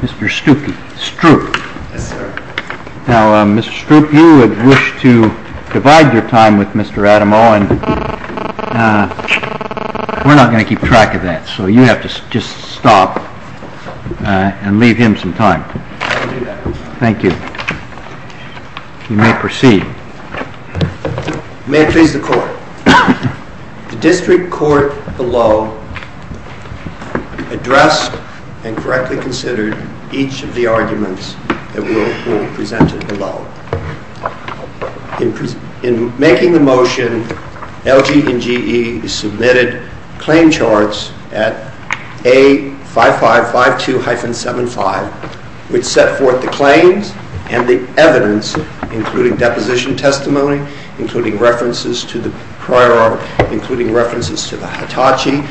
Mr. Strupe, you wish to divide your time with Mr. Adamo and we're not going to keep track of that so you have to just stop and leave him some time. Thank you. You may proceed. May it please the Court, the District Court below addressed and correctly considered each of the arguments that will be presented below. In making the motion, LG and GE submitted claim charts at A5552-75 which set forth the evidence and testimony including references to the prior article, including references to the Hitachi,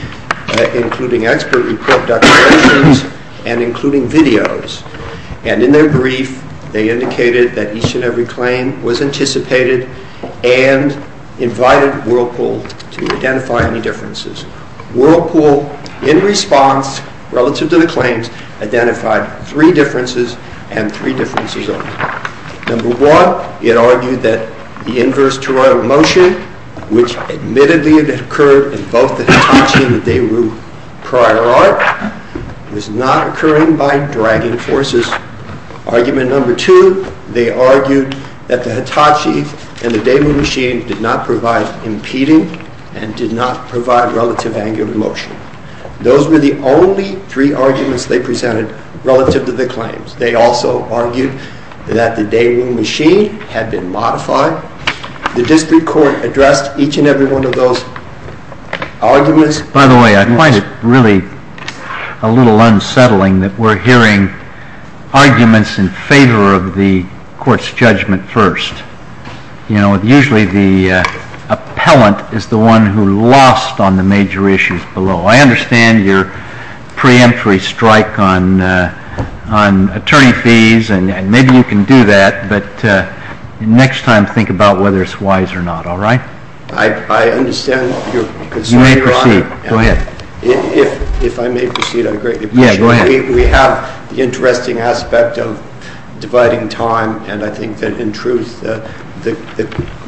including expert report documentations and including videos. And in their brief, they indicated that each and every claim was anticipated and invited Whirlpool to identify any differences. Whirlpool in response relative to the claims identified three differences and three differences only. Number one, it argued that the inverse toroidal motion, which admittedly occurred in both the Hitachi and the Daewoo prior art, was not occurring by dragging forces. Argument number two, they argued that the Hitachi and the Daewoo machine did not provide impeding and did not provide relative angular motion. Those were the only three arguments they presented relative to the claims. They also argued that the Daewoo machine had been modified. The District Court addressed each and every one of those arguments. By the way, I find it really a little unsettling that we're hearing arguments in favor of the Court's judgment first. You know, usually the appellant is the one who lost on the major issues below. I understand your preemptory strike on attorney fees, and maybe you can do that, but next time think about whether it's wise or not, all right? I understand your concern, Your Honor. You may proceed. Go ahead. If I may proceed, I greatly appreciate it. Yeah, go ahead. We have the interesting aspect of dividing time, and I think that, in truth, the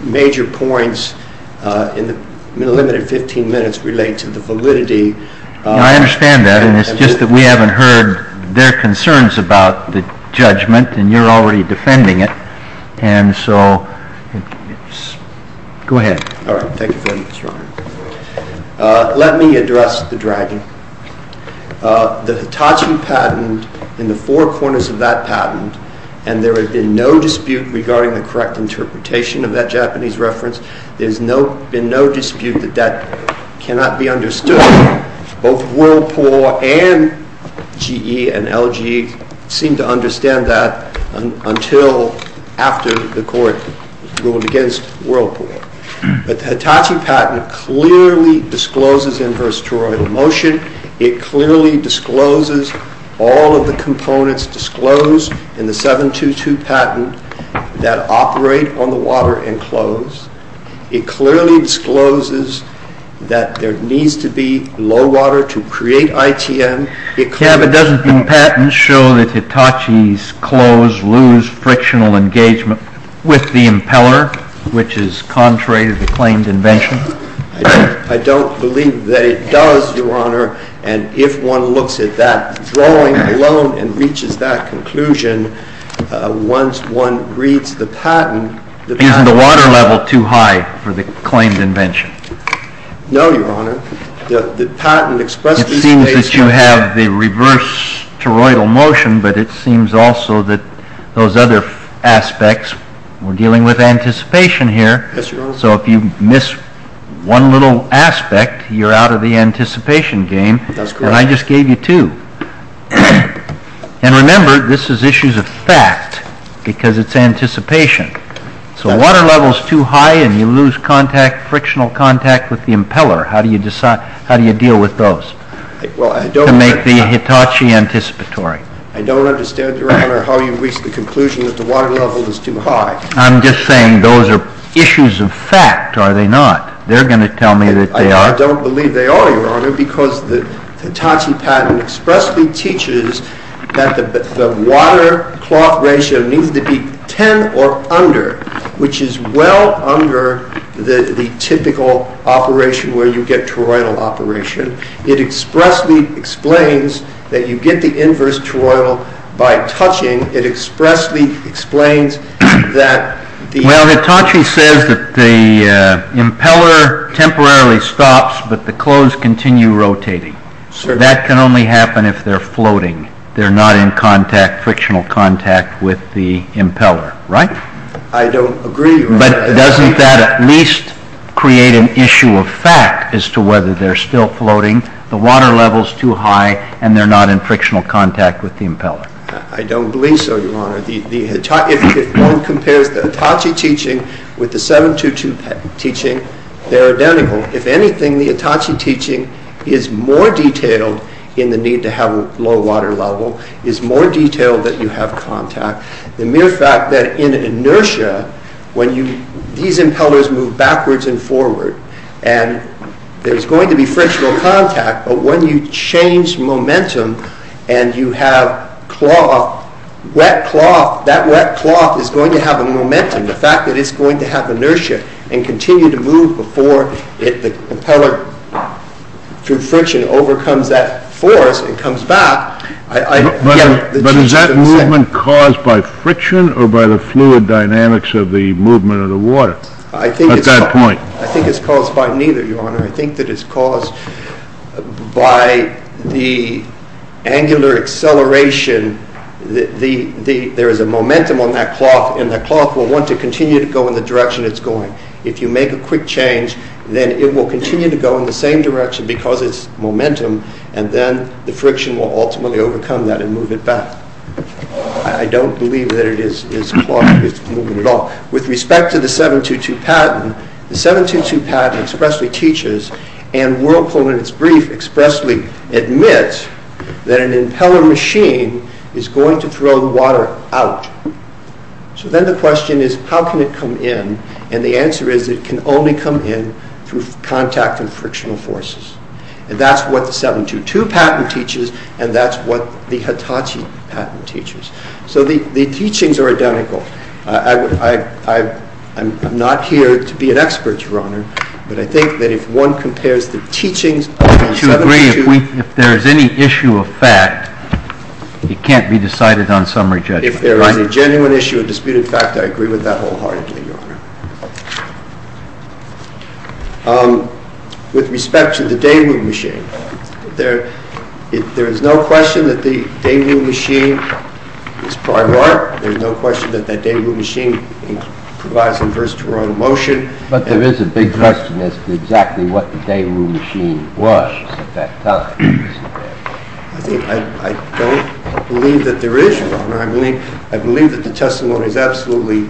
major points in the limited 15 minutes relate to the validity of the judgment. I understand that. It's just that we haven't heard their concerns about the judgment, and you're already defending it. Go ahead. All right. Thank you very much, Your Honor. Let me address the dragon. The Hitachi patent, in the four corners of that patent, and there had been no dispute regarding the correct interpretation of that Japanese reference. There's been no dispute that that cannot be understood. Both Whirlpool and GE and LG seem to understand that until after the court ruled against Whirlpool. But the Hitachi patent clearly discloses inversatorial motion. It clearly discloses all of the components disclosed in the 722 patent that operate on the water and close. It clearly discloses that there needs to be low water to create ITM. But doesn't the patent show that Hitachi's close lose frictional engagement with the impeller, which is contrary to the claimed invention? I don't believe that it does, Your Honor. And if one looks at that drawing alone and reaches that conclusion, once one reads the patent... Isn't the water level too high for the claimed invention? No, Your Honor. The patent expresses... It seems that you have the reverse toroidal motion, but it seems also that those other aspects, we're dealing with anticipation here. Yes, Your Honor. So if you miss one little aspect, you're out of the anticipation game. That's correct. And I just gave you two. And remember, this is issues of fact because it's anticipation. So water level's too high and you lose frictional contact with the impeller. How do you deal with those to make the Hitachi anticipatory? I don't understand, Your Honor, how you reach the conclusion that the water level is too high. I'm just saying those are issues of fact, are they not? They're going to tell me that they are. I don't believe they are, Your Honor, because the Hitachi patent expressly teaches that the water-cloth ratio needs to be 10 or under, which is well under the typical operation where you get toroidal operation. It expressly explains that you get the inverse toroidal by touching. It expressly explains that the... Well, Hitachi says that the impeller temporarily stops, but the clothes continue rotating. That can only happen if they're floating. They're not in frictional contact with the impeller, right? I don't agree, Your Honor. But doesn't that at least create an issue of fact as to whether they're still floating, the water level's too high, and they're not in frictional contact with the impeller? I don't believe so, Your Honor. If one compares the Hitachi teaching with the 722 patent teaching, they're identical. If anything, the Hitachi teaching is more detailed in the need to have low water level, is more detailed that you have contact. The mere fact that in inertia, these impellers move backwards and forward, and there's going to be frictional contact, but when you change momentum and you have cloth, wet cloth, that wet cloth is going to have a momentum. The fact that it's going to have inertia and continue to move before the impeller, through friction, overcomes that force and comes back... But is that movement caused by friction or by the fluid dynamics of the movement of the water at that point? I think it's caused by neither, Your Honor. I think that it's caused by the angular acceleration. There is a momentum on that cloth, and that cloth will want to continue to go in the direction it's going. If you make a quick change, then it will continue to go in the same direction because it's momentum, and then the friction will ultimately overcome that and move it back. I don't believe that it is cloth that is moving at all. With respect to the 7.22 patent, the 7.22 patent expressly teaches and Whirlpool in its brief expressly admits that an impeller machine is going to throw the water out. So then the question is, how can it come in? And the answer is, it can only come in through contact and frictional forces. And that's what the 7.22 patent teaches, and that's what the Hitachi patent teaches. So the teachings are identical. I'm not here to be an expert, Your Honor, but I think that if one compares the teachings of the 7.22... If there is any issue of fact, it can't be decided on summary judgment, right? If there is a genuine issue, a disputed fact, I agree with that wholeheartedly, Your Honor. With respect to the Daewoo machine, there is no question that the Daewoo machine is part of art. There is no question that the Daewoo machine provides inverse toronto motion. But there is a big question as to exactly what the Daewoo machine was at that time. I don't believe that there is, Your Honor. I believe that the testimony is absolutely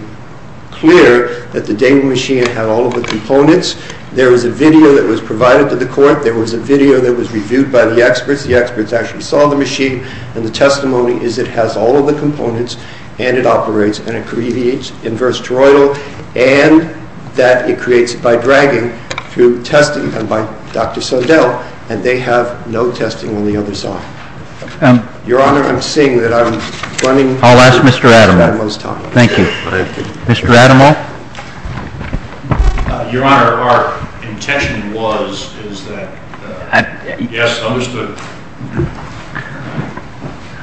clear that the Daewoo machine had all of the components. There was a video that was provided to the court. There was a video that was reviewed by the experts. The experts actually saw the machine, and the testimony is that it has all of the components, and it operates, and it creates inverse toronto, and that it creates by dragging through testing done by Dr. Sodell, and they have no testing on the other side. Your Honor, I'm seeing that I'm running... I'll ask Mr. Adamo. Mr. Adamo? Your Honor, our intention was that... Yes, understood.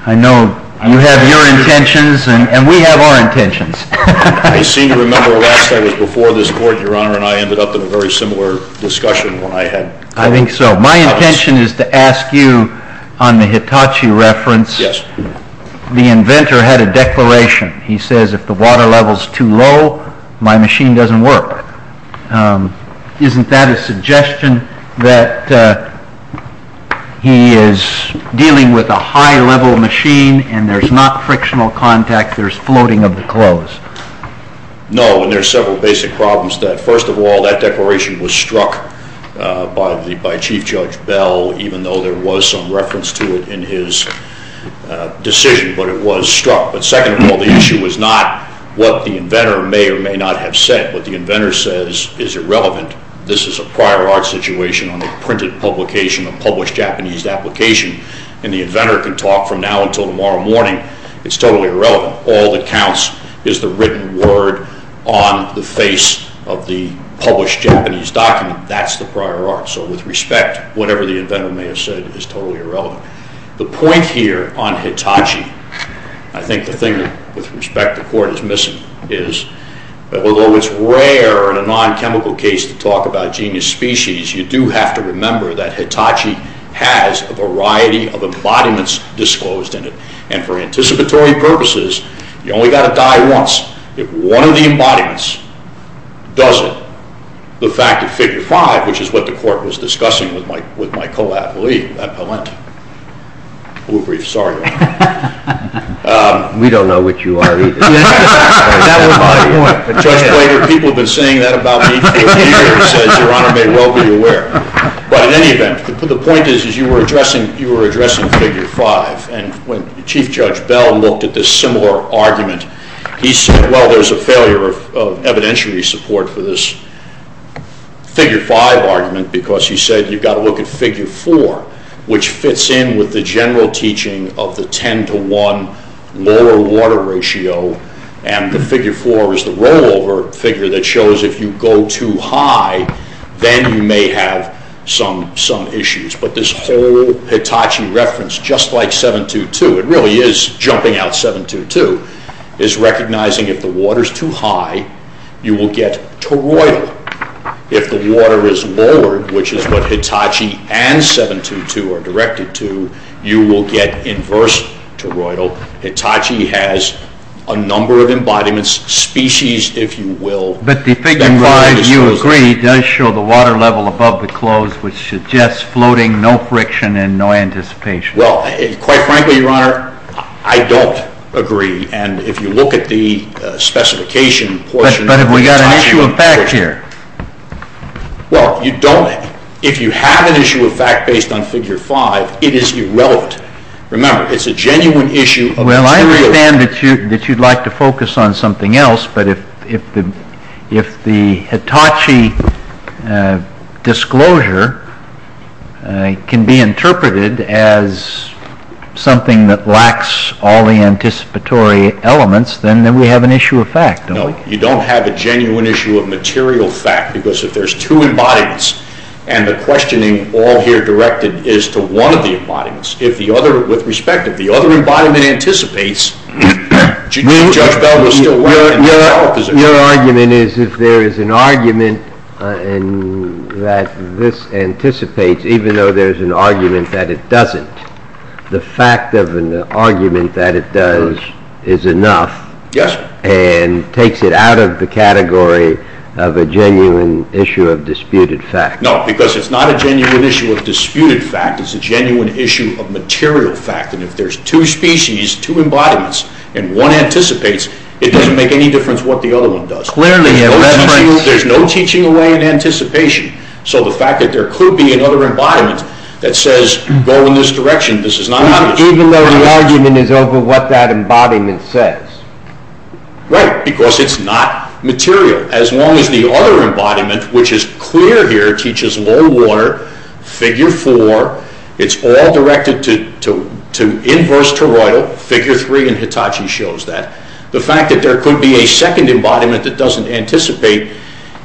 I know you have your intentions, and we have our intentions. I seem to remember last I was before this court, Your Honor, and I ended up in a very similar discussion when I had... I think so. My intention is to ask you on the Hitachi reference. Yes. The inventor had a declaration. He says if the water level is too low, my machine doesn't work. Isn't that a suggestion that he is dealing with a high-level machine, and there's not frictional contact, there's floating of the clothes? No, and there's several basic problems. First of all, that declaration was struck by Chief Judge Bell, even though there was some reference to it in his decision, but it was struck. But second of all, the issue was not what the inventor may or may not have said. What the inventor says is irrelevant. This is a prior art situation on a printed publication, a published Japanese application, and the inventor can talk from now until tomorrow morning. It's totally irrelevant. All that counts is the written word on the face of the published Japanese document. That's the prior art. So with respect, whatever the inventor may have said is totally irrelevant. The point here on Hitachi, I think the thing that, with respect, the Court is missing is that although it's rare in a non-chemical case to talk about genius species, you do have to remember that Hitachi has a variety of embodiments disclosed in it. And for anticipatory purposes, you've only got to die once. If one of the embodiments does it, the fact of Figure 5, which is what the Court was discussing with my co-appliee, Matt Palente, we'll brief. Sorry, Your Honor. We don't know what you are either. That was my point. Judge Blaker, people have been saying that about me for years, as Your Honor may well be aware. But in any event, the point is you were addressing Figure 5. And when Chief Judge Bell looked at this similar argument, he said, well, there's a failure of evidentiary support for this Figure 5 argument because he said you've got to look at Figure 4, which fits in with the general teaching of the 10 to 1 lower water ratio and the Figure 4 is the rollover figure that shows if you go too high, then you may have some issues. But this whole Hitachi reference, just like 722, it really is jumping out 722, is recognizing if the water is too high, you will get toroidal. If the water is lowered, which is what Hitachi and 722 are directed to, you will get inverse toroidal. Hitachi has a number of embodiments, species, if you will. But the Figure 5, you agree, does show the water level above the close which suggests floating, no friction and no anticipation. Well, quite frankly, Your Honor, I don't agree. And if you look at the specification portion But have we got an issue of fact here? Well, if you have an issue of fact based on Figure 5, it is irrelevant. Remember, it's a genuine issue. Well, I understand that you'd like to focus on something else but if the Hitachi disclosure can be interpreted as something that lacks all the anticipatory elements, then we have an issue of fact, don't we? No. You don't have a genuine issue of material fact because if there's two embodiments and the questioning all here directed is to one of the embodiments, with respect, if the other embodiment anticipates, Judge Bell will still weigh in. Your argument is if there is an argument that this anticipates even though there's an argument that it doesn't, the fact of an argument that it does is enough and takes it out of the category of a genuine issue of disputed fact. No, because it's not a genuine issue of disputed fact. It's a genuine issue of material fact and if there's two species, two embodiments and one anticipates, it doesn't make any difference what the other one does. Clearly, there's no teaching away in anticipation, so the fact that there could be another embodiment that says go in this direction, this is not obvious. Even though the argument is over what that embodiment says. Right, because it's not material. As long as the other embodiment, which is clear here, teaches low water, figure four, it's all directed to inverse toroidal, figure three and Hitachi shows that. The fact that there could be a second embodiment that doesn't anticipate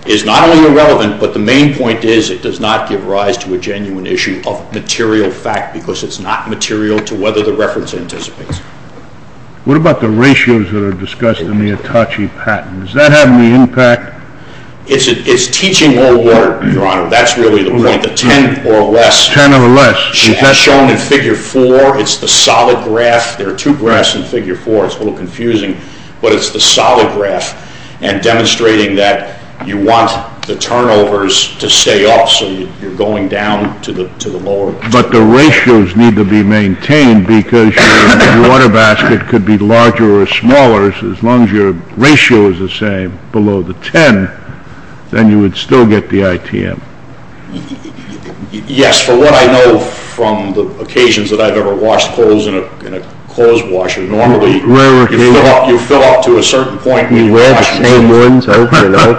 is not only irrelevant, but the main point is it does not give rise to a genuine issue of material fact because it's not material to whether the reference anticipates. What about the ratios that are discussed in the Hitachi patent? Does that have any impact? It's teaching low water, your honor. That's really the point. The ten or less shown in figure four, it's the solid graph. There are two graphs in figure four. It's a little confusing, but it's the solid graph and demonstrating that you want the turnovers to stay off, so you're going down to the lower But the ratios need to be maintained because your water basket could be larger or smaller as long as your ratio is the same below the ten, then you would still get the ITM. Yes, from what I know from the occasions that I've ever washed clothes in a clothes washer, normally you fill up to a certain point and you wash it again.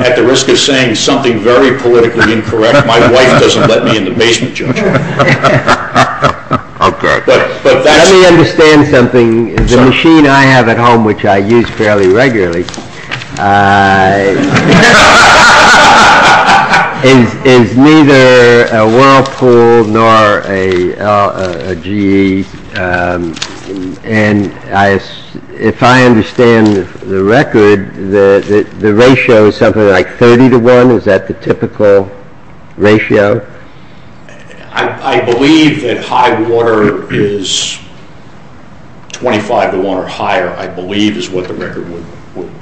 At the risk of saying something very politically incorrect, my wife doesn't let me in the basement, Judge. Okay. Let me understand something. The machine I have at home, which I use fairly regularly, is neither a Whirlpool nor a GE and if I understand the record, the ratio is something like thirty to one? Is that the typical ratio? I believe that high water is twenty-five to one or higher, I believe, is what the record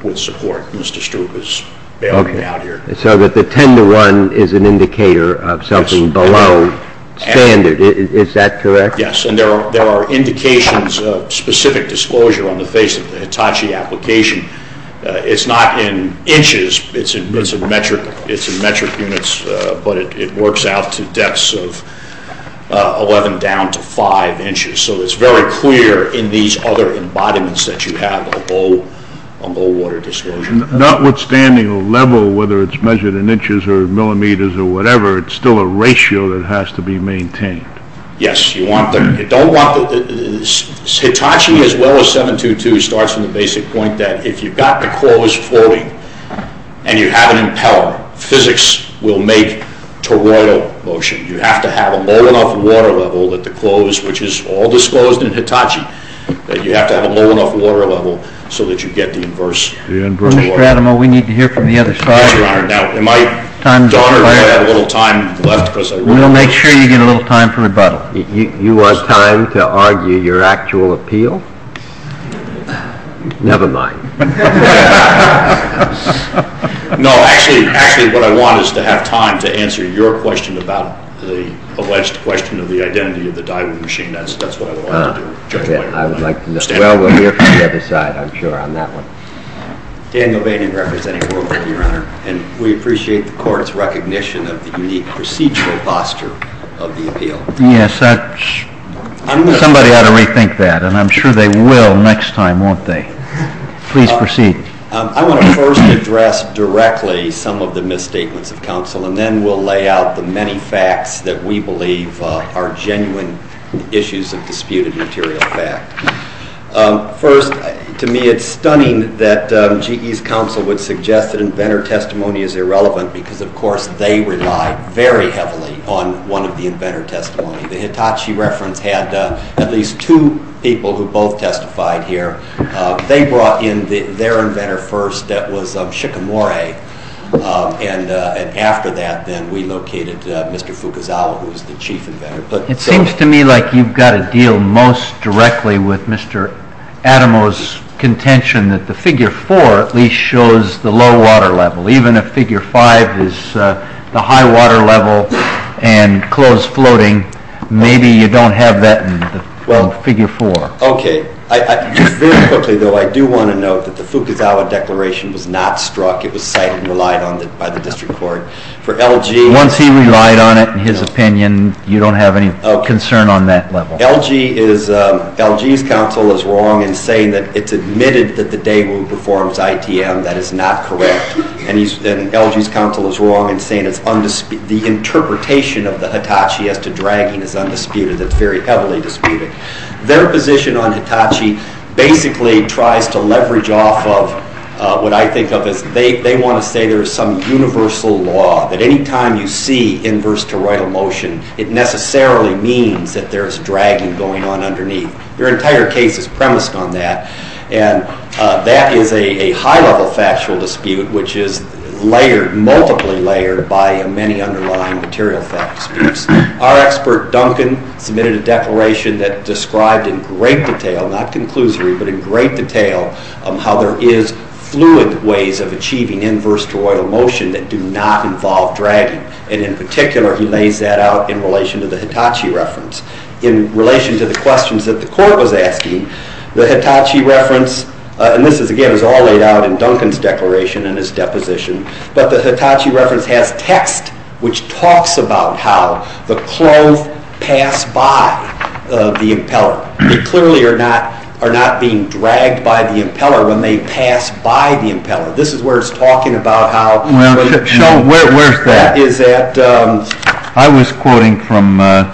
would support. Mr. Stewart is bailing me out here. So the ten to one is an indicator of something below standard. Is that correct? Yes, and there are indications of specific disclosure on the face of the Hitachi application. It's not in inches, it's in metric units, but it works out to depths of eleven down to five inches, so it's very clear in these other embodiments that you have a low water disclosure. Notwithstanding the level, whether it's measured in inches or millimeters or whatever, it's still a ratio that has to be maintained. Yes, you don't want the Hitachi as well as 722 starts from the basic point that if you've got the cores floating and you have an impeller, physics will make toroidal motion. You have to have a low enough water level at the close which is all disclosed in Hitachi that you have to have a low enough water level so that you get the inverse toroidal motion. Mr. Adamo, we need to hear from the other side. Yes, Your Honor. Now, am I done or do I have a little time left? We'll make sure you get a little time for rebuttal. You want time to argue your actual appeal? Never mind. No, actually, what I want is to have time to answer your question about the alleged question of the identity of the Daiwa machine. That's what I would like to do. I would like to know. Well, we'll hear from the other side, I'm sure, on that one. Daniel Boehnig, representing World Bank, Your Honor, and we appreciate the Court's recognition of the unique procedural posture of the appeal. Yes, somebody ought to rethink that and I'm sure they will next time, won't they? Please proceed. I want to first address directly some of the misstatements of counsel and then we'll lay out the many facts that we believe are genuine issues of disputed material fact. First, to me, it's stunning that GE's counsel would suggest that inventor testimony is irrelevant because, of course, they rely very heavily on one of the inventor testimonies. The Hitachi reference had at least two people who brought in their inventor first that was Shikamori and after that we located Mr. Fukuzawa who was the chief inventor. It seems to me like you've got to deal most directly with Mr. Adamo's contention that the figure 4 at least shows the low water level. Even if figure 5 is the high water level and clothes floating, maybe you don't have that in figure 4. Very quickly though, I do want to note that the Fukuzawa declaration was not struck. It was cited and relied on by the district court. Once he relied on it in his opinion, you don't have any concern on that level. LG's counsel is wrong in saying that it's admitted that the Daewoo performs ITM. That is not correct. LG's counsel is wrong in saying the interpretation of the Hitachi as to dragging is undisputed. It's very clear that the interpretation on Hitachi basically tries to leverage off of what I think of as they want to say there is some universal law that any time you see inverse toroidal motion, it necessarily means that there is dragging going on underneath. Their entire case is premised on that. That is a high level factual dispute which is layered, multiply layered by many underlying material facts. Our expert Duncan submitted a declaration that described in great detail, not conclusory, but in great detail how there is fluid ways of achieving inverse toroidal motion that do not involve dragging. In particular, he lays that out in relation to the Hitachi reference. In relation to the questions that the court was asking, the Hitachi reference and this again is all laid out in Duncan's declaration and his deposition, but the Hitachi reference has text which talks about how the clove pass by the impeller. They clearly are not being dragged by the impeller when they pass by the impeller. This is where it is talking about how Where is that? I was quoting from Well,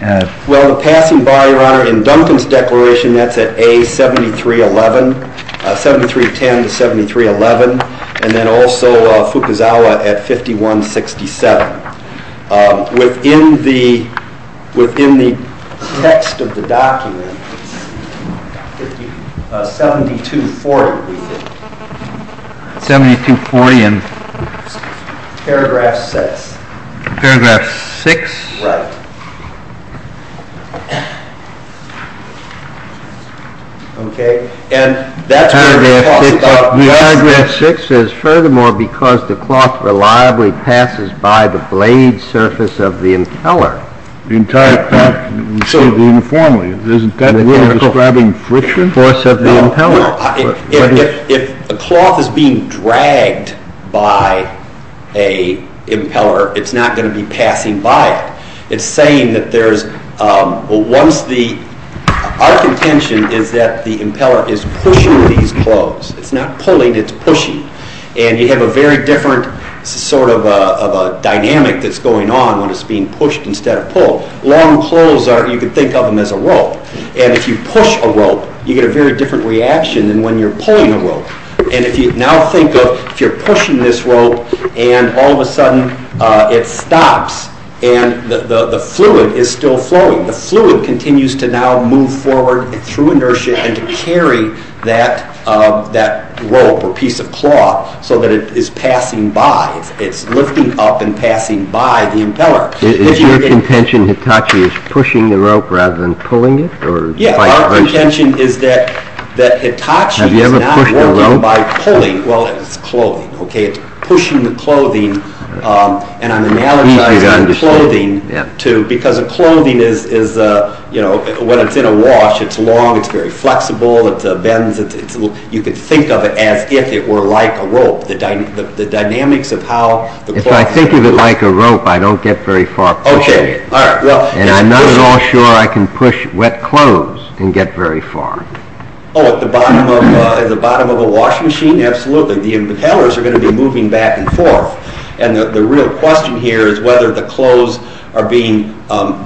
the passing by, your honor, in Duncan's declaration, that is at A73.10 to 73.11 and then also Fukuzawa at 51.67 Within the text of the document 72.40 we think 72.40 in paragraph 6 paragraph 6 right and that is where the paragraph 6 says furthermore because the cloth reliably passes by the blade surface of the impeller the entire cloth uniformly describing friction force of the impeller If the cloth is being dragged by a impeller, it is not going to be passing by it. It is saying that there is once the our contention is that the impeller is pushing these cloves it is not pulling, it is pushing and you have a very different sort of a dynamic that is going on when it is being pushed instead of pulled long pulls are, you can think of them as a rope and if you push a rope, you get a very different reaction than when you are pulling a rope and if you now think of, if you are pushing this rope and all of a sudden it stops and the fluid is still flowing, the fluid continues to now move forward through inertia and to that rope or piece of cloth so that it is passing by, it is lifting up and passing by the impeller Is your contention that Hitachi is pushing the rope rather than pulling it? Yeah, our contention is that Hitachi is not working by pulling, well it is clothing, okay, it is pushing the clothing and I am analogizing clothing because a clothing is when it is in a wash, it is long it is very flexible you can think of it as if it were like a rope the dynamics of how If I think of it like a rope, I don't get very far and I am not at all sure I can push wet clothes and get very far Oh, at the bottom of a washing machine, absolutely, the impellers are going to be moving back and forth and the real question here is whether the clothes are being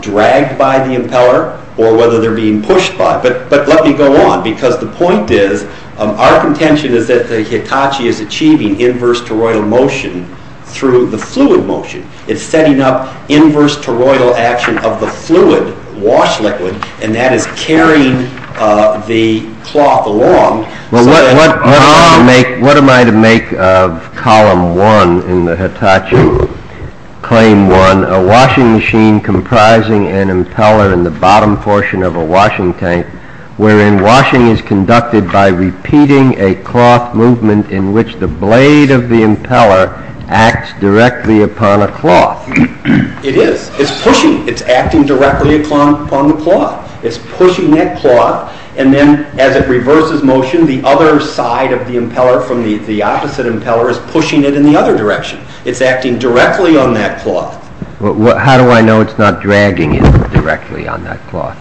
dragged by the impeller or whether they are being pushed by but let me go on because the point is our contention is that Hitachi is achieving inverse toroidal motion through the fluid motion, it is setting up inverse toroidal action of the fluid wash liquid and that is carrying the cloth along What am I to make of column one in the Hitachi claim one, a washing machine comprising an impeller in the bottom portion of a washing tank where in washing is conducted by repeating a cloth movement in which the blade of the impeller acts directly upon a cloth It is, it is pushing, it is acting directly upon the cloth it is pushing that cloth and then as it reverses motion the other side of the impeller from the opposite impeller is pushing it in the other direction it is acting directly on that cloth How do I know it is not dragging it directly on that cloth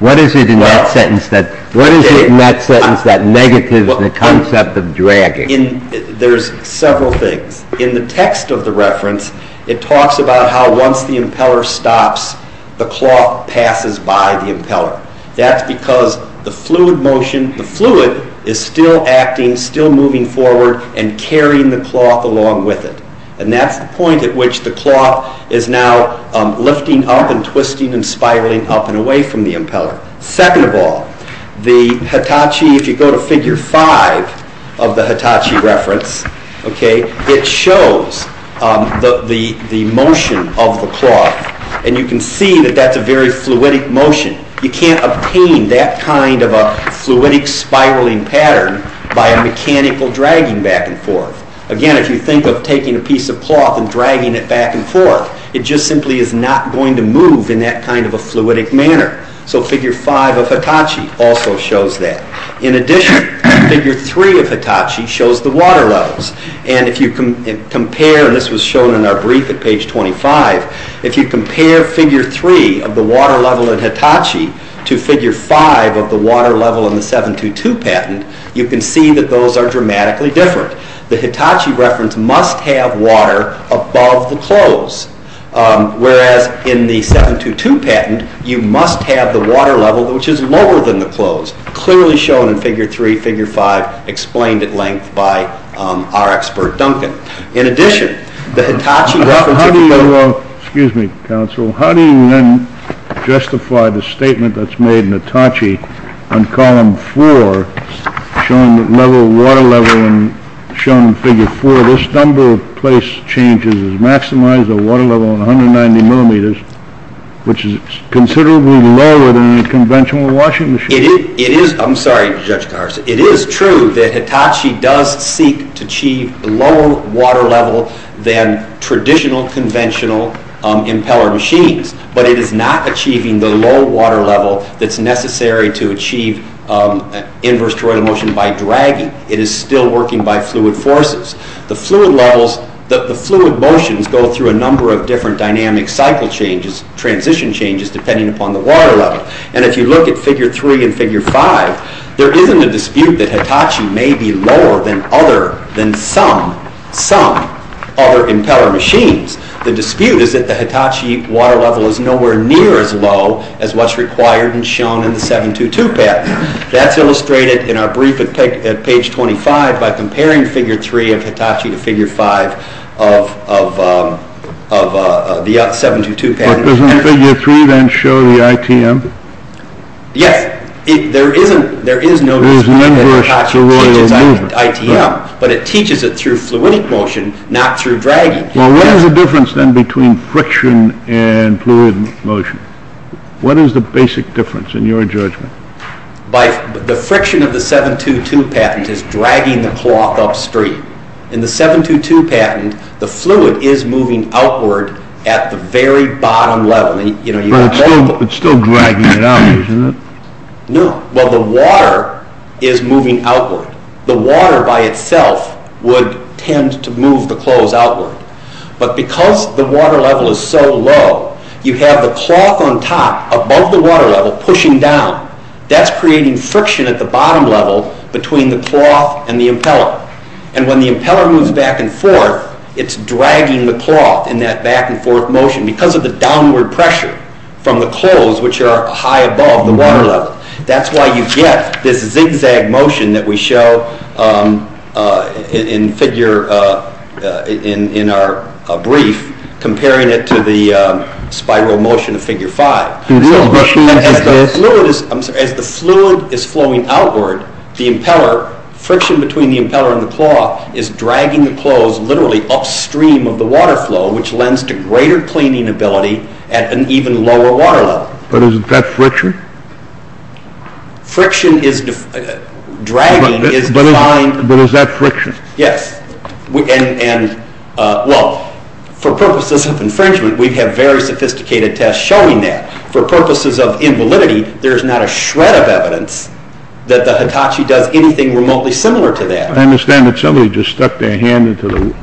What is it in that sentence that negative in the concept of dragging There is several things, in the text of the reference it talks about how once the impeller stops the cloth passes by the impeller, that is because the fluid motion, the fluid is still acting, still moving forward and carrying the cloth along with it, and that is the point at which the cloth is now lifting up and twisting and spiraling up and away from the impeller Second of all, the Hitachi if you go to figure 5 of the Hitachi reference it shows the motion of the cloth and you can see that that is a very fluidic motion you can't obtain that kind of a fluidic spiraling pattern by a mechanical dragging back and forth. Again, if you think of taking a piece of cloth and dragging it back and forth, it just simply is not going to move in that kind of a fluidic manner. So figure 5 of Hitachi also shows that In addition, figure 3 of Hitachi shows the water levels and if you compare this was shown in our brief at page 25 if you compare figure 3 of the water level in Hitachi to figure 5 of the water level in the 722 patent you can see that those are dramatically different. The Hitachi reference must have water above the clothes. Whereas in the 722 patent you must have the water level which is lower than the clothes. Clearly shown in figure 3, figure 5 explained at length by our expert Duncan. In addition the Hitachi reference Excuse me, counsel. How do you then justify the statement that's made in Hitachi on column 4 showing the level of water level shown in figure 4 this number of place changes has maximized the water level 190 millimeters which is considerably lower than a conventional washing machine. It is I'm sorry Judge Carson. It is true that Hitachi does seek to achieve lower water level than traditional conventional impeller machines but it is not achieving the low water level that's necessary to achieve inverse toroidal motion by dragging. It is still working by fluid forces. The fluid levels, the fluid motions go through a number of different dynamic cycle changes, transition changes depending upon the water level. And if you look at figure 3 and figure 5 there isn't a dispute that Hitachi may be lower than other than some, some other impeller machines. The dispute is that the Hitachi water level is nowhere near as low as what's required and shown in the 722 pattern. That's illustrated in our brief at page 25 by comparing figure 3 of Hitachi to figure 5 of of the 722 pattern. But doesn't figure 3 then show the ITM? Yes. There isn't there is no dispute that Hitachi teaches ITM. But it teaches it through fluidic motion not through dragging. Well what is the difference then between friction and fluid motion? What is the basic difference in your judgment? The friction of the 722 pattern is dragging the cloth upstream. In the 722 pattern the fluid is moving outward at the very bottom level. But it's still dragging it out isn't it? No. Well the water is moving outward. The water by itself would tend to move the the water level is so low you have the cloth on top above the water level pushing down. That's creating friction at the bottom level between the cloth and the impeller. And when the impeller moves back and forth it's dragging the cloth in that back and forth motion because of the downward pressure from the clothes which are high above the water level. That's why you get this zigzag motion that we show in figure in our brief comparing it to the spiral motion of figure 5. As the fluid is flowing outward the impeller friction between the impeller and the cloth is dragging the clothes literally upstream of the water flow which lends to greater cleaning ability at an even lower water level. But isn't that friction? Friction is dragging is defined But is that friction? Yes. And well, for purposes of infringement we have very sophisticated tests showing that. For purposes of invalidity there's not a shred of evidence that the Hitachi does anything remotely similar to that. I understand that somebody just stuck their hand into the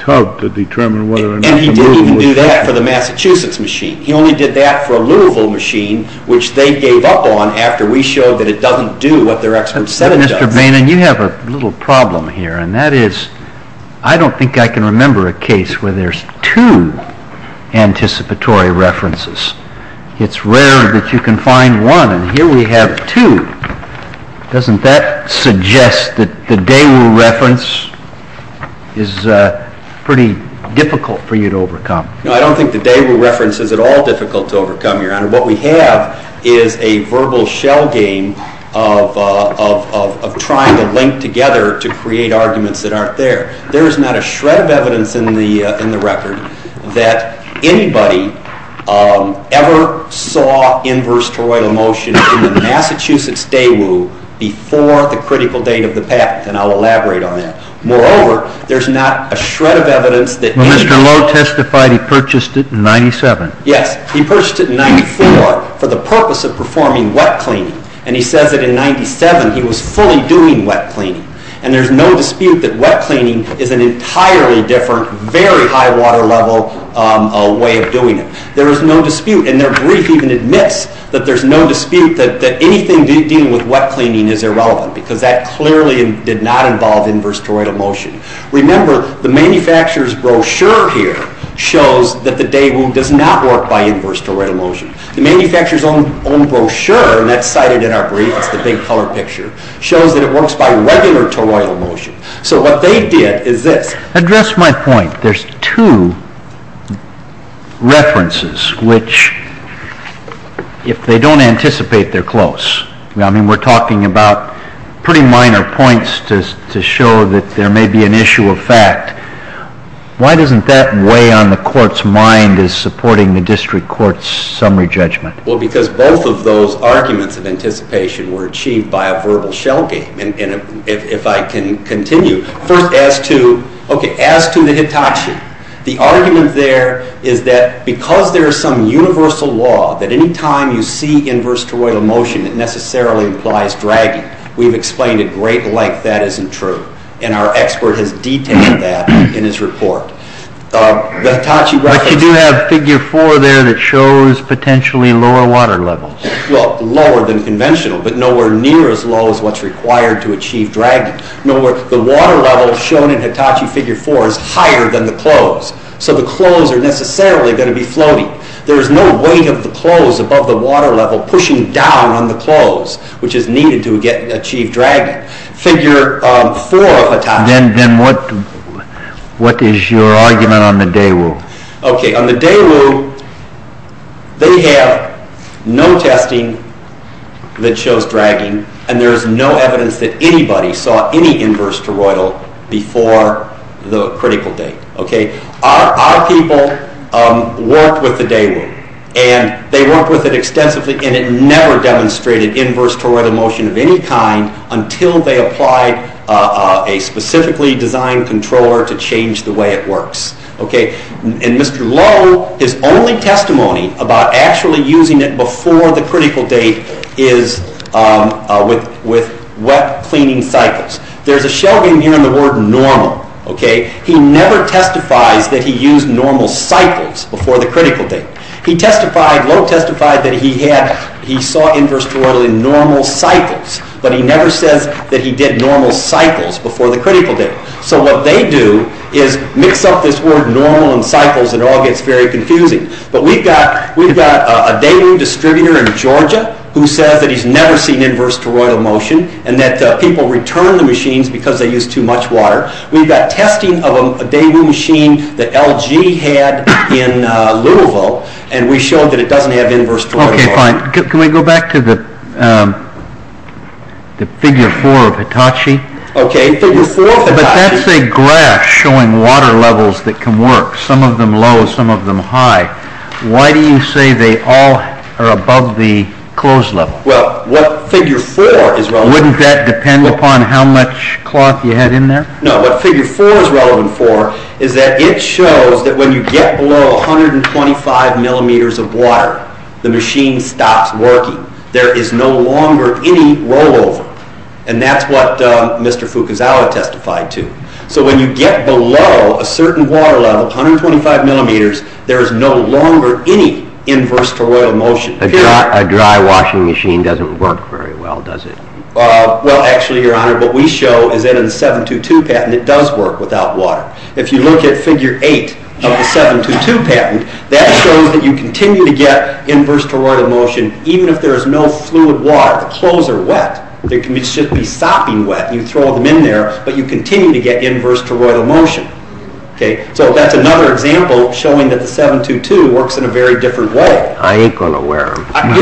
tub to determine whether or not And he didn't even do that for the Massachusetts machine. He only did that for a Louisville machine which they gave up on after we showed that it doesn't do what their expert said it does. Mr. Boehner you have a little problem here and that is I don't think I can remember a case where there's two anticipatory references. It's rare that you can find one and here we have two. Doesn't that suggest that the Daewoo reference is pretty difficult for you to overcome? No, I don't think the Daewoo reference is at all difficult to overcome, Your Honor. What we have is a verbal shell game of trying to link together to create arguments that aren't there. There is not a shred of evidence in the record that anybody ever saw inverse toroidal motion in the Massachusetts Daewoo before the critical date of the patent and I'll elaborate on that. Moreover there's not a shred of evidence that Mr. Lowe testified he purchased it in 97. Yes, he purchased it in 94 for the purpose of performing wet cleaning and he says that in 97 he was fully doing wet cleaning and there's no dispute that wet cleaning is an entirely different, very high water level way of doing it. There is no dispute and their brief even admits that there's no dispute that anything dealing with wet cleaning is irrelevant because that clearly did not involve inverse toroidal motion. Remember, the manufacturer's brochure here shows that the Daewoo does not work by inverse toroidal motion. The manufacturer's own brochure, and that's cited in our brief, it's the big color picture, shows that it works by regular toroidal motion. So what they did is this. Address my point. There's two references which if they don't anticipate they're close. I mean we're talking about pretty minor points to show that there may be an issue of fact. Why doesn't that weigh on the court's mind as supporting the district court's summary judgment? Well, because both of those arguments of anticipation were achieved by a verbal shell game. If I can continue. First, as to the Hitachi. The argument there is that because there's some universal law that any time you see inverse toroidal motion it necessarily implies dragging. We've explained it great length that isn't true. And our expert has detailed that in his report. The Hitachi reference... But you do have a figure 4 there that shows potentially lower water levels. Well, lower than conventional, but nowhere near as low as what's required to achieve dragging. The water level shown in Hitachi figure 4 is higher than the close. So the close are necessarily going to be floating. There's no weight of the close above the water level pushing down on the close which is needed to achieve dragging. Figure 4 of Hitachi... Then what is your argument on the Daewoo? On the Daewoo, they have no testing that shows dragging and there's no evidence that anybody saw any inverse toroidal before the critical date. Our people worked with the Daewoo and they worked with it extensively and it never demonstrated inverse toroidal motion of any kind until they applied a specifically designed controller to change the way it works. Mr. Lowe, his only testimony about actually using it before the critical date is with wet cleaning cycles. There's a shell game here in the word normal. He never testifies that he used normal cycles before the critical date. Lowe testified that he saw inverse toroidal in normal cycles, but he never says that he did normal cycles before the critical date. So what they do is mix up this word normal and cycles and it all gets very confusing. But we've got a Daewoo distributor in Georgia who says that he's never seen inverse toroidal motion and that people return the machines because they use too much water. We've got testing of a Daewoo machine that LG had in Louisville and we showed that it doesn't have inverse toroidal motion. Can we go back to the figure four of Hitachi? But that's a graph showing water levels that can work. Some of them low, some of them high. Why do you say they all are above the close level? Wouldn't that depend upon how much cloth you had in there? No, what figure four is relevant for is that it shows that when you get below 125 millimeters of water, the machine stops working. There is no longer any rollover and that's what Mr. Fukuzawa testified to. So when you get below a certain water level, 125 millimeters, there is no longer any inverse toroidal motion. A dry washing machine doesn't work very well, does it? Well, actually, Your Honor, what we show is that in the 722 patent, it does work without water. If you look at figure eight of the 722 patent, that shows that you continue to get inverse toroidal motion even if there is no fluid water. The clothes are wet. They should be sopping wet. You throw them in there, but you continue to get inverse toroidal motion. So that's another example showing that the 722 works in a very different way. I ain't going to wear them. And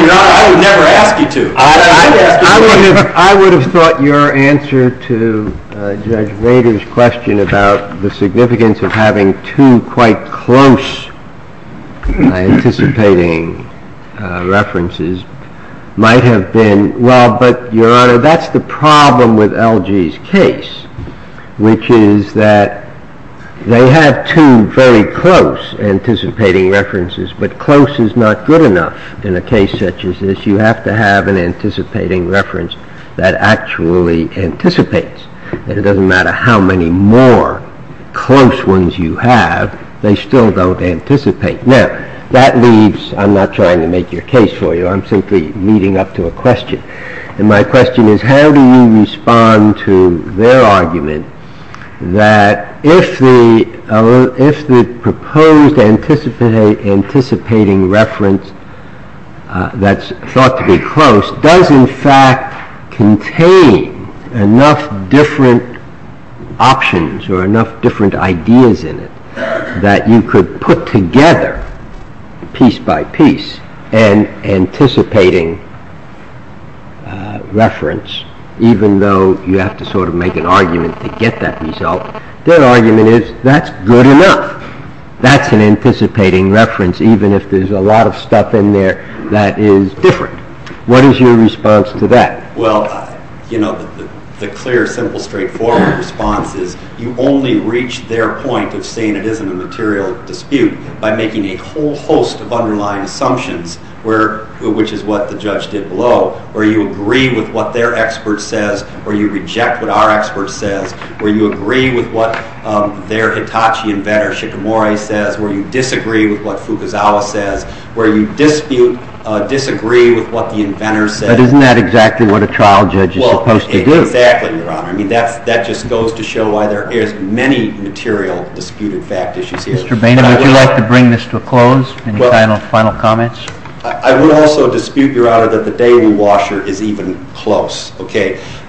Your Honor, I would never ask you to. I would have thought your answer to Judge Rader's question about the significance of having two quite close anticipating references might have been, well, but Your Honor, that's the problem with LG's case, which is that they have two very close anticipating references, but close is not good enough in a case such as this. You have to have an anticipating reference that actually anticipates. And it doesn't matter how many more close ones you have, they still don't anticipate. Now, that leaves, I'm not trying to make your case for you. I'm simply leading up to a question. And my question is, how do you respond to their argument that if the proposed anticipating reference that's thought to be close does in fact contain enough different options or enough different ideas in it that you could put together piece by piece an anticipating reference even though you have to sort of make an argument to get that result. Their argument is, that's good enough. That's an anticipating reference, even if there's a lot of stuff in there that is different. What is your response to that? Well, you know, the clear, simple, straightforward response is, you only reach their point of saying it isn't a material dispute by making a whole host of underlying assumptions, which is what the judge did below, where you agree with what their expert says, where you reject what our expert says, where you agree with what their Hitachi inventor, Shigemori, says, where you disagree with what Fukuzawa says, where you dispute, disagree with what the inventor says. But isn't that exactly what a trial judge is supposed to do? Exactly, your honor. That just goes to show why there is many material disputed fact issues here. Mr. Boehner, would you like to bring this to a close? Any final comments? I would also dispute, your honor, that the daily washer is even close.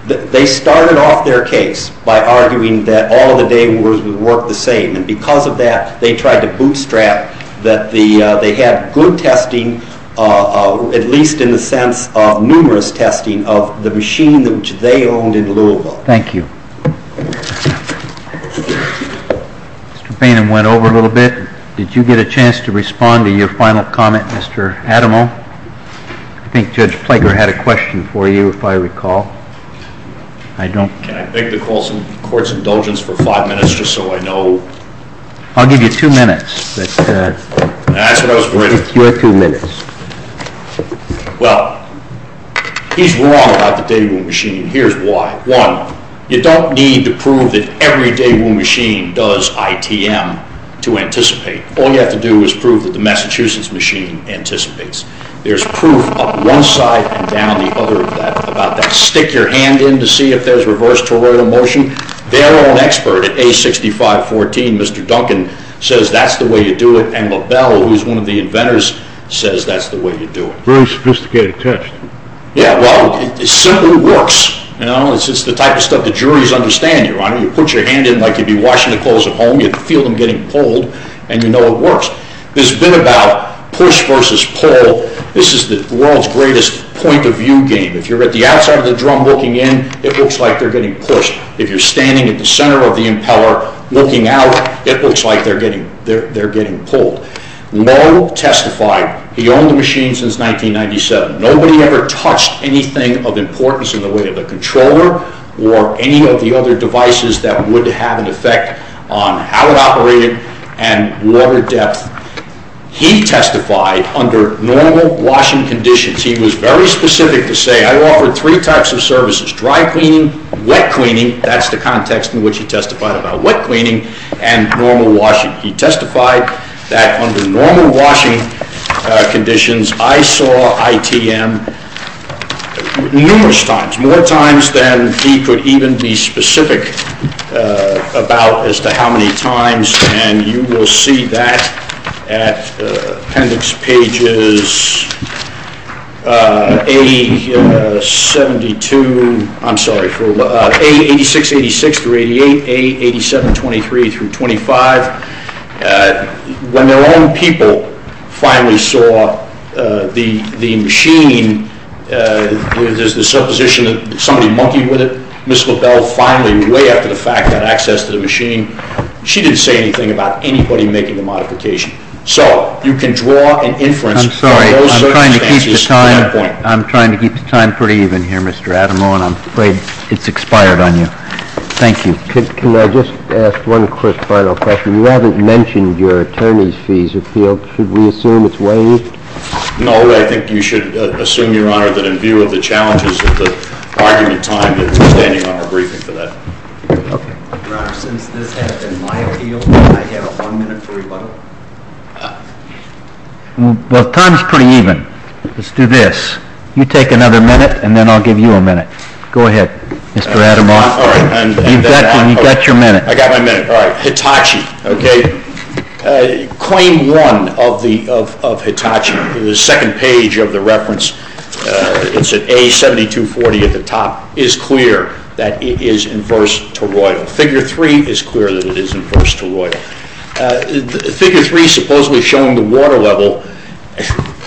They started off their case by arguing that all the daily washers would work the same. Because of that, they tried to bootstrap that they had good testing, at least in the sense of numerous testing of the machine which they owned in Louisville. Thank you. Mr. Boehner went over a little bit. Did you get a chance to respond to your final comment, Mr. Adamo? I think Judge Plager had a question for you, if I recall. Can I beg the court's indulgence for five I'll give you two minutes. That's what I was waiting for. Your two minutes. Well, he's wrong about the Daewoo machine. Here's why. One, you don't need to prove that every Daewoo machine does ITM to anticipate. All you have to do is prove that the Massachusetts machine anticipates. There's proof up one side and down the other about that. Stick your hand in to see if there's reverse toroidal motion. Their own expert at A6514, Mr. Duncan, says that's the way you do it. And LaBelle, who's one of the inventors, says that's the way you do it. Very sophisticated test. It simply works. It's the type of stuff the juries understand. You put your hand in like you'd be washing the clothes at home. You feel them getting pulled and you know it works. This bit about push versus pull, this is the world's greatest point of view game. If you're at the outside of the drum looking in, it looks like they're getting pushed. If you're standing at the center of the impeller looking out, it looks like they're getting pulled. No testified. He owned the machine since 1997. Nobody ever touched anything of importance in the way of the controller or any of the other devices that would have an effect on how it operated and water depth. He testified under normal washing conditions. He was very specific to say, I offered three types of services. Dry cleaning, wet cleaning, that's the context in which he testified about wet cleaning, and normal washing. He testified that under normal washing conditions, I saw ITM numerous times, more times than he could even be specific about as to how many times, and you will see that at appendix pages 80, 72, I'm sorry, 86, 86 through 88, 87, 23 through 25. When their own people finally saw the machine, there's the supposition that somebody monkeyed with it. Ms. LaBelle finally, way after the fact, got access to the machine. She didn't say anything about anybody making the modification. So, you can draw an inference from those circumstances. I'm trying to keep the time pretty even here, Mr. Adamo, and I'm afraid it's expired on you. Thank you. Can I just ask one quick final question? You haven't mentioned your attorney's fees appeal. Should we assume it's waived? No, I think you should assume, Your Honor, that in view of the challenges of the argument timed, it's standing on our briefing for that. Okay. Your Honor, since this has been my appeal, can I have one minute for rebuttal? Well, time's pretty even. Let's do this. You take another minute, and then I'll give you a minute. Go ahead, Mr. Adamo. You've got your minute. I've got my minute. Hitachi. Okay. Claim one of Hitachi, the second page of the reference, it's at A7240 at the top, is clear that it is inverse to Royal. Figure three is clear that it is inverse to Royal. Figure three supposedly showing the water level.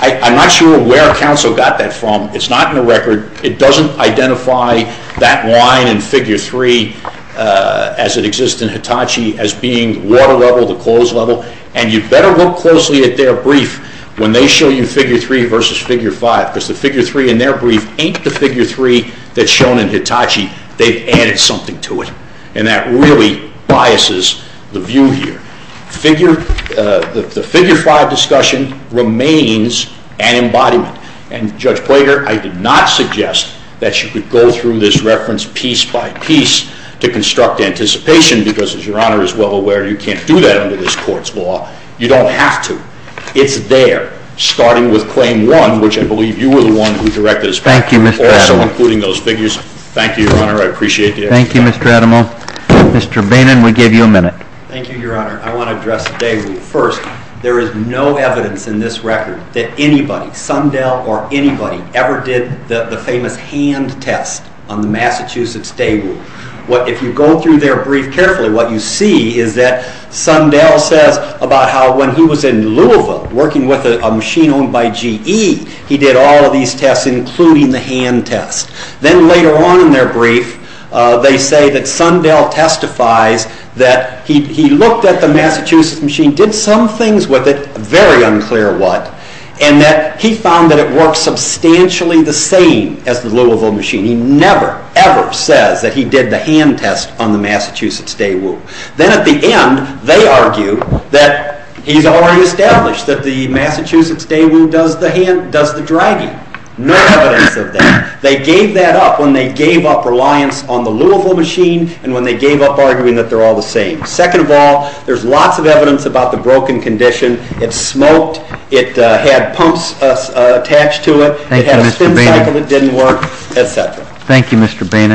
I'm not sure where counsel got that from. It's not in the record. It doesn't identify that line in figure three as it exists in Hitachi as being water level, the close level, and you'd better look closely at their brief when they show you figure three versus figure five, because the figure three in their brief ain't the figure three that's shown in Hitachi. They've added something to it, and that really biases the view here. The figure five discussion remains an embodiment, and Judge Plager, I did not suggest that you could go through this reference piece by piece to construct anticipation, because as Your Honor is well aware you can't do that under this Court's law. You don't have to. It's there, starting with claim one, which I believe you were the one who directed. Thank you, Mr. Adamo. Also including those figures. Thank you, Your Honor. I appreciate the effort. Thank you, Mr. Adamo. Mr. Boehner, we gave you a minute. Thank you, Your Honor. I want to address the Day Rule first. There is no evidence in this record that anybody, Sundell or anybody ever did the famous hand test on the Massachusetts Day Rule. If you go through their brief carefully, what you see is that Sundell says about how when he was in Louisville, working with a machine owned by GE, he did all of these tests, including the hand test. Then later on in their brief, they say that Sundell testifies that he looked at the Massachusetts machine, did some things with it, very unclear what, and that he found that it worked substantially the same as the Louisville machine. He never, ever says that he did the hand test on the Massachusetts Day Rule. Then at the end, they argue that he's already established that the Massachusetts Day Rule does the dragging. No evidence of that. They gave that up when they gave up reliance on the Louisville machine and when they gave up arguing that they're all the same. Second of all, there's lots of evidence about the broken condition. It smoked, it had pumps attached to it, it had a spin cycle that didn't work, etc.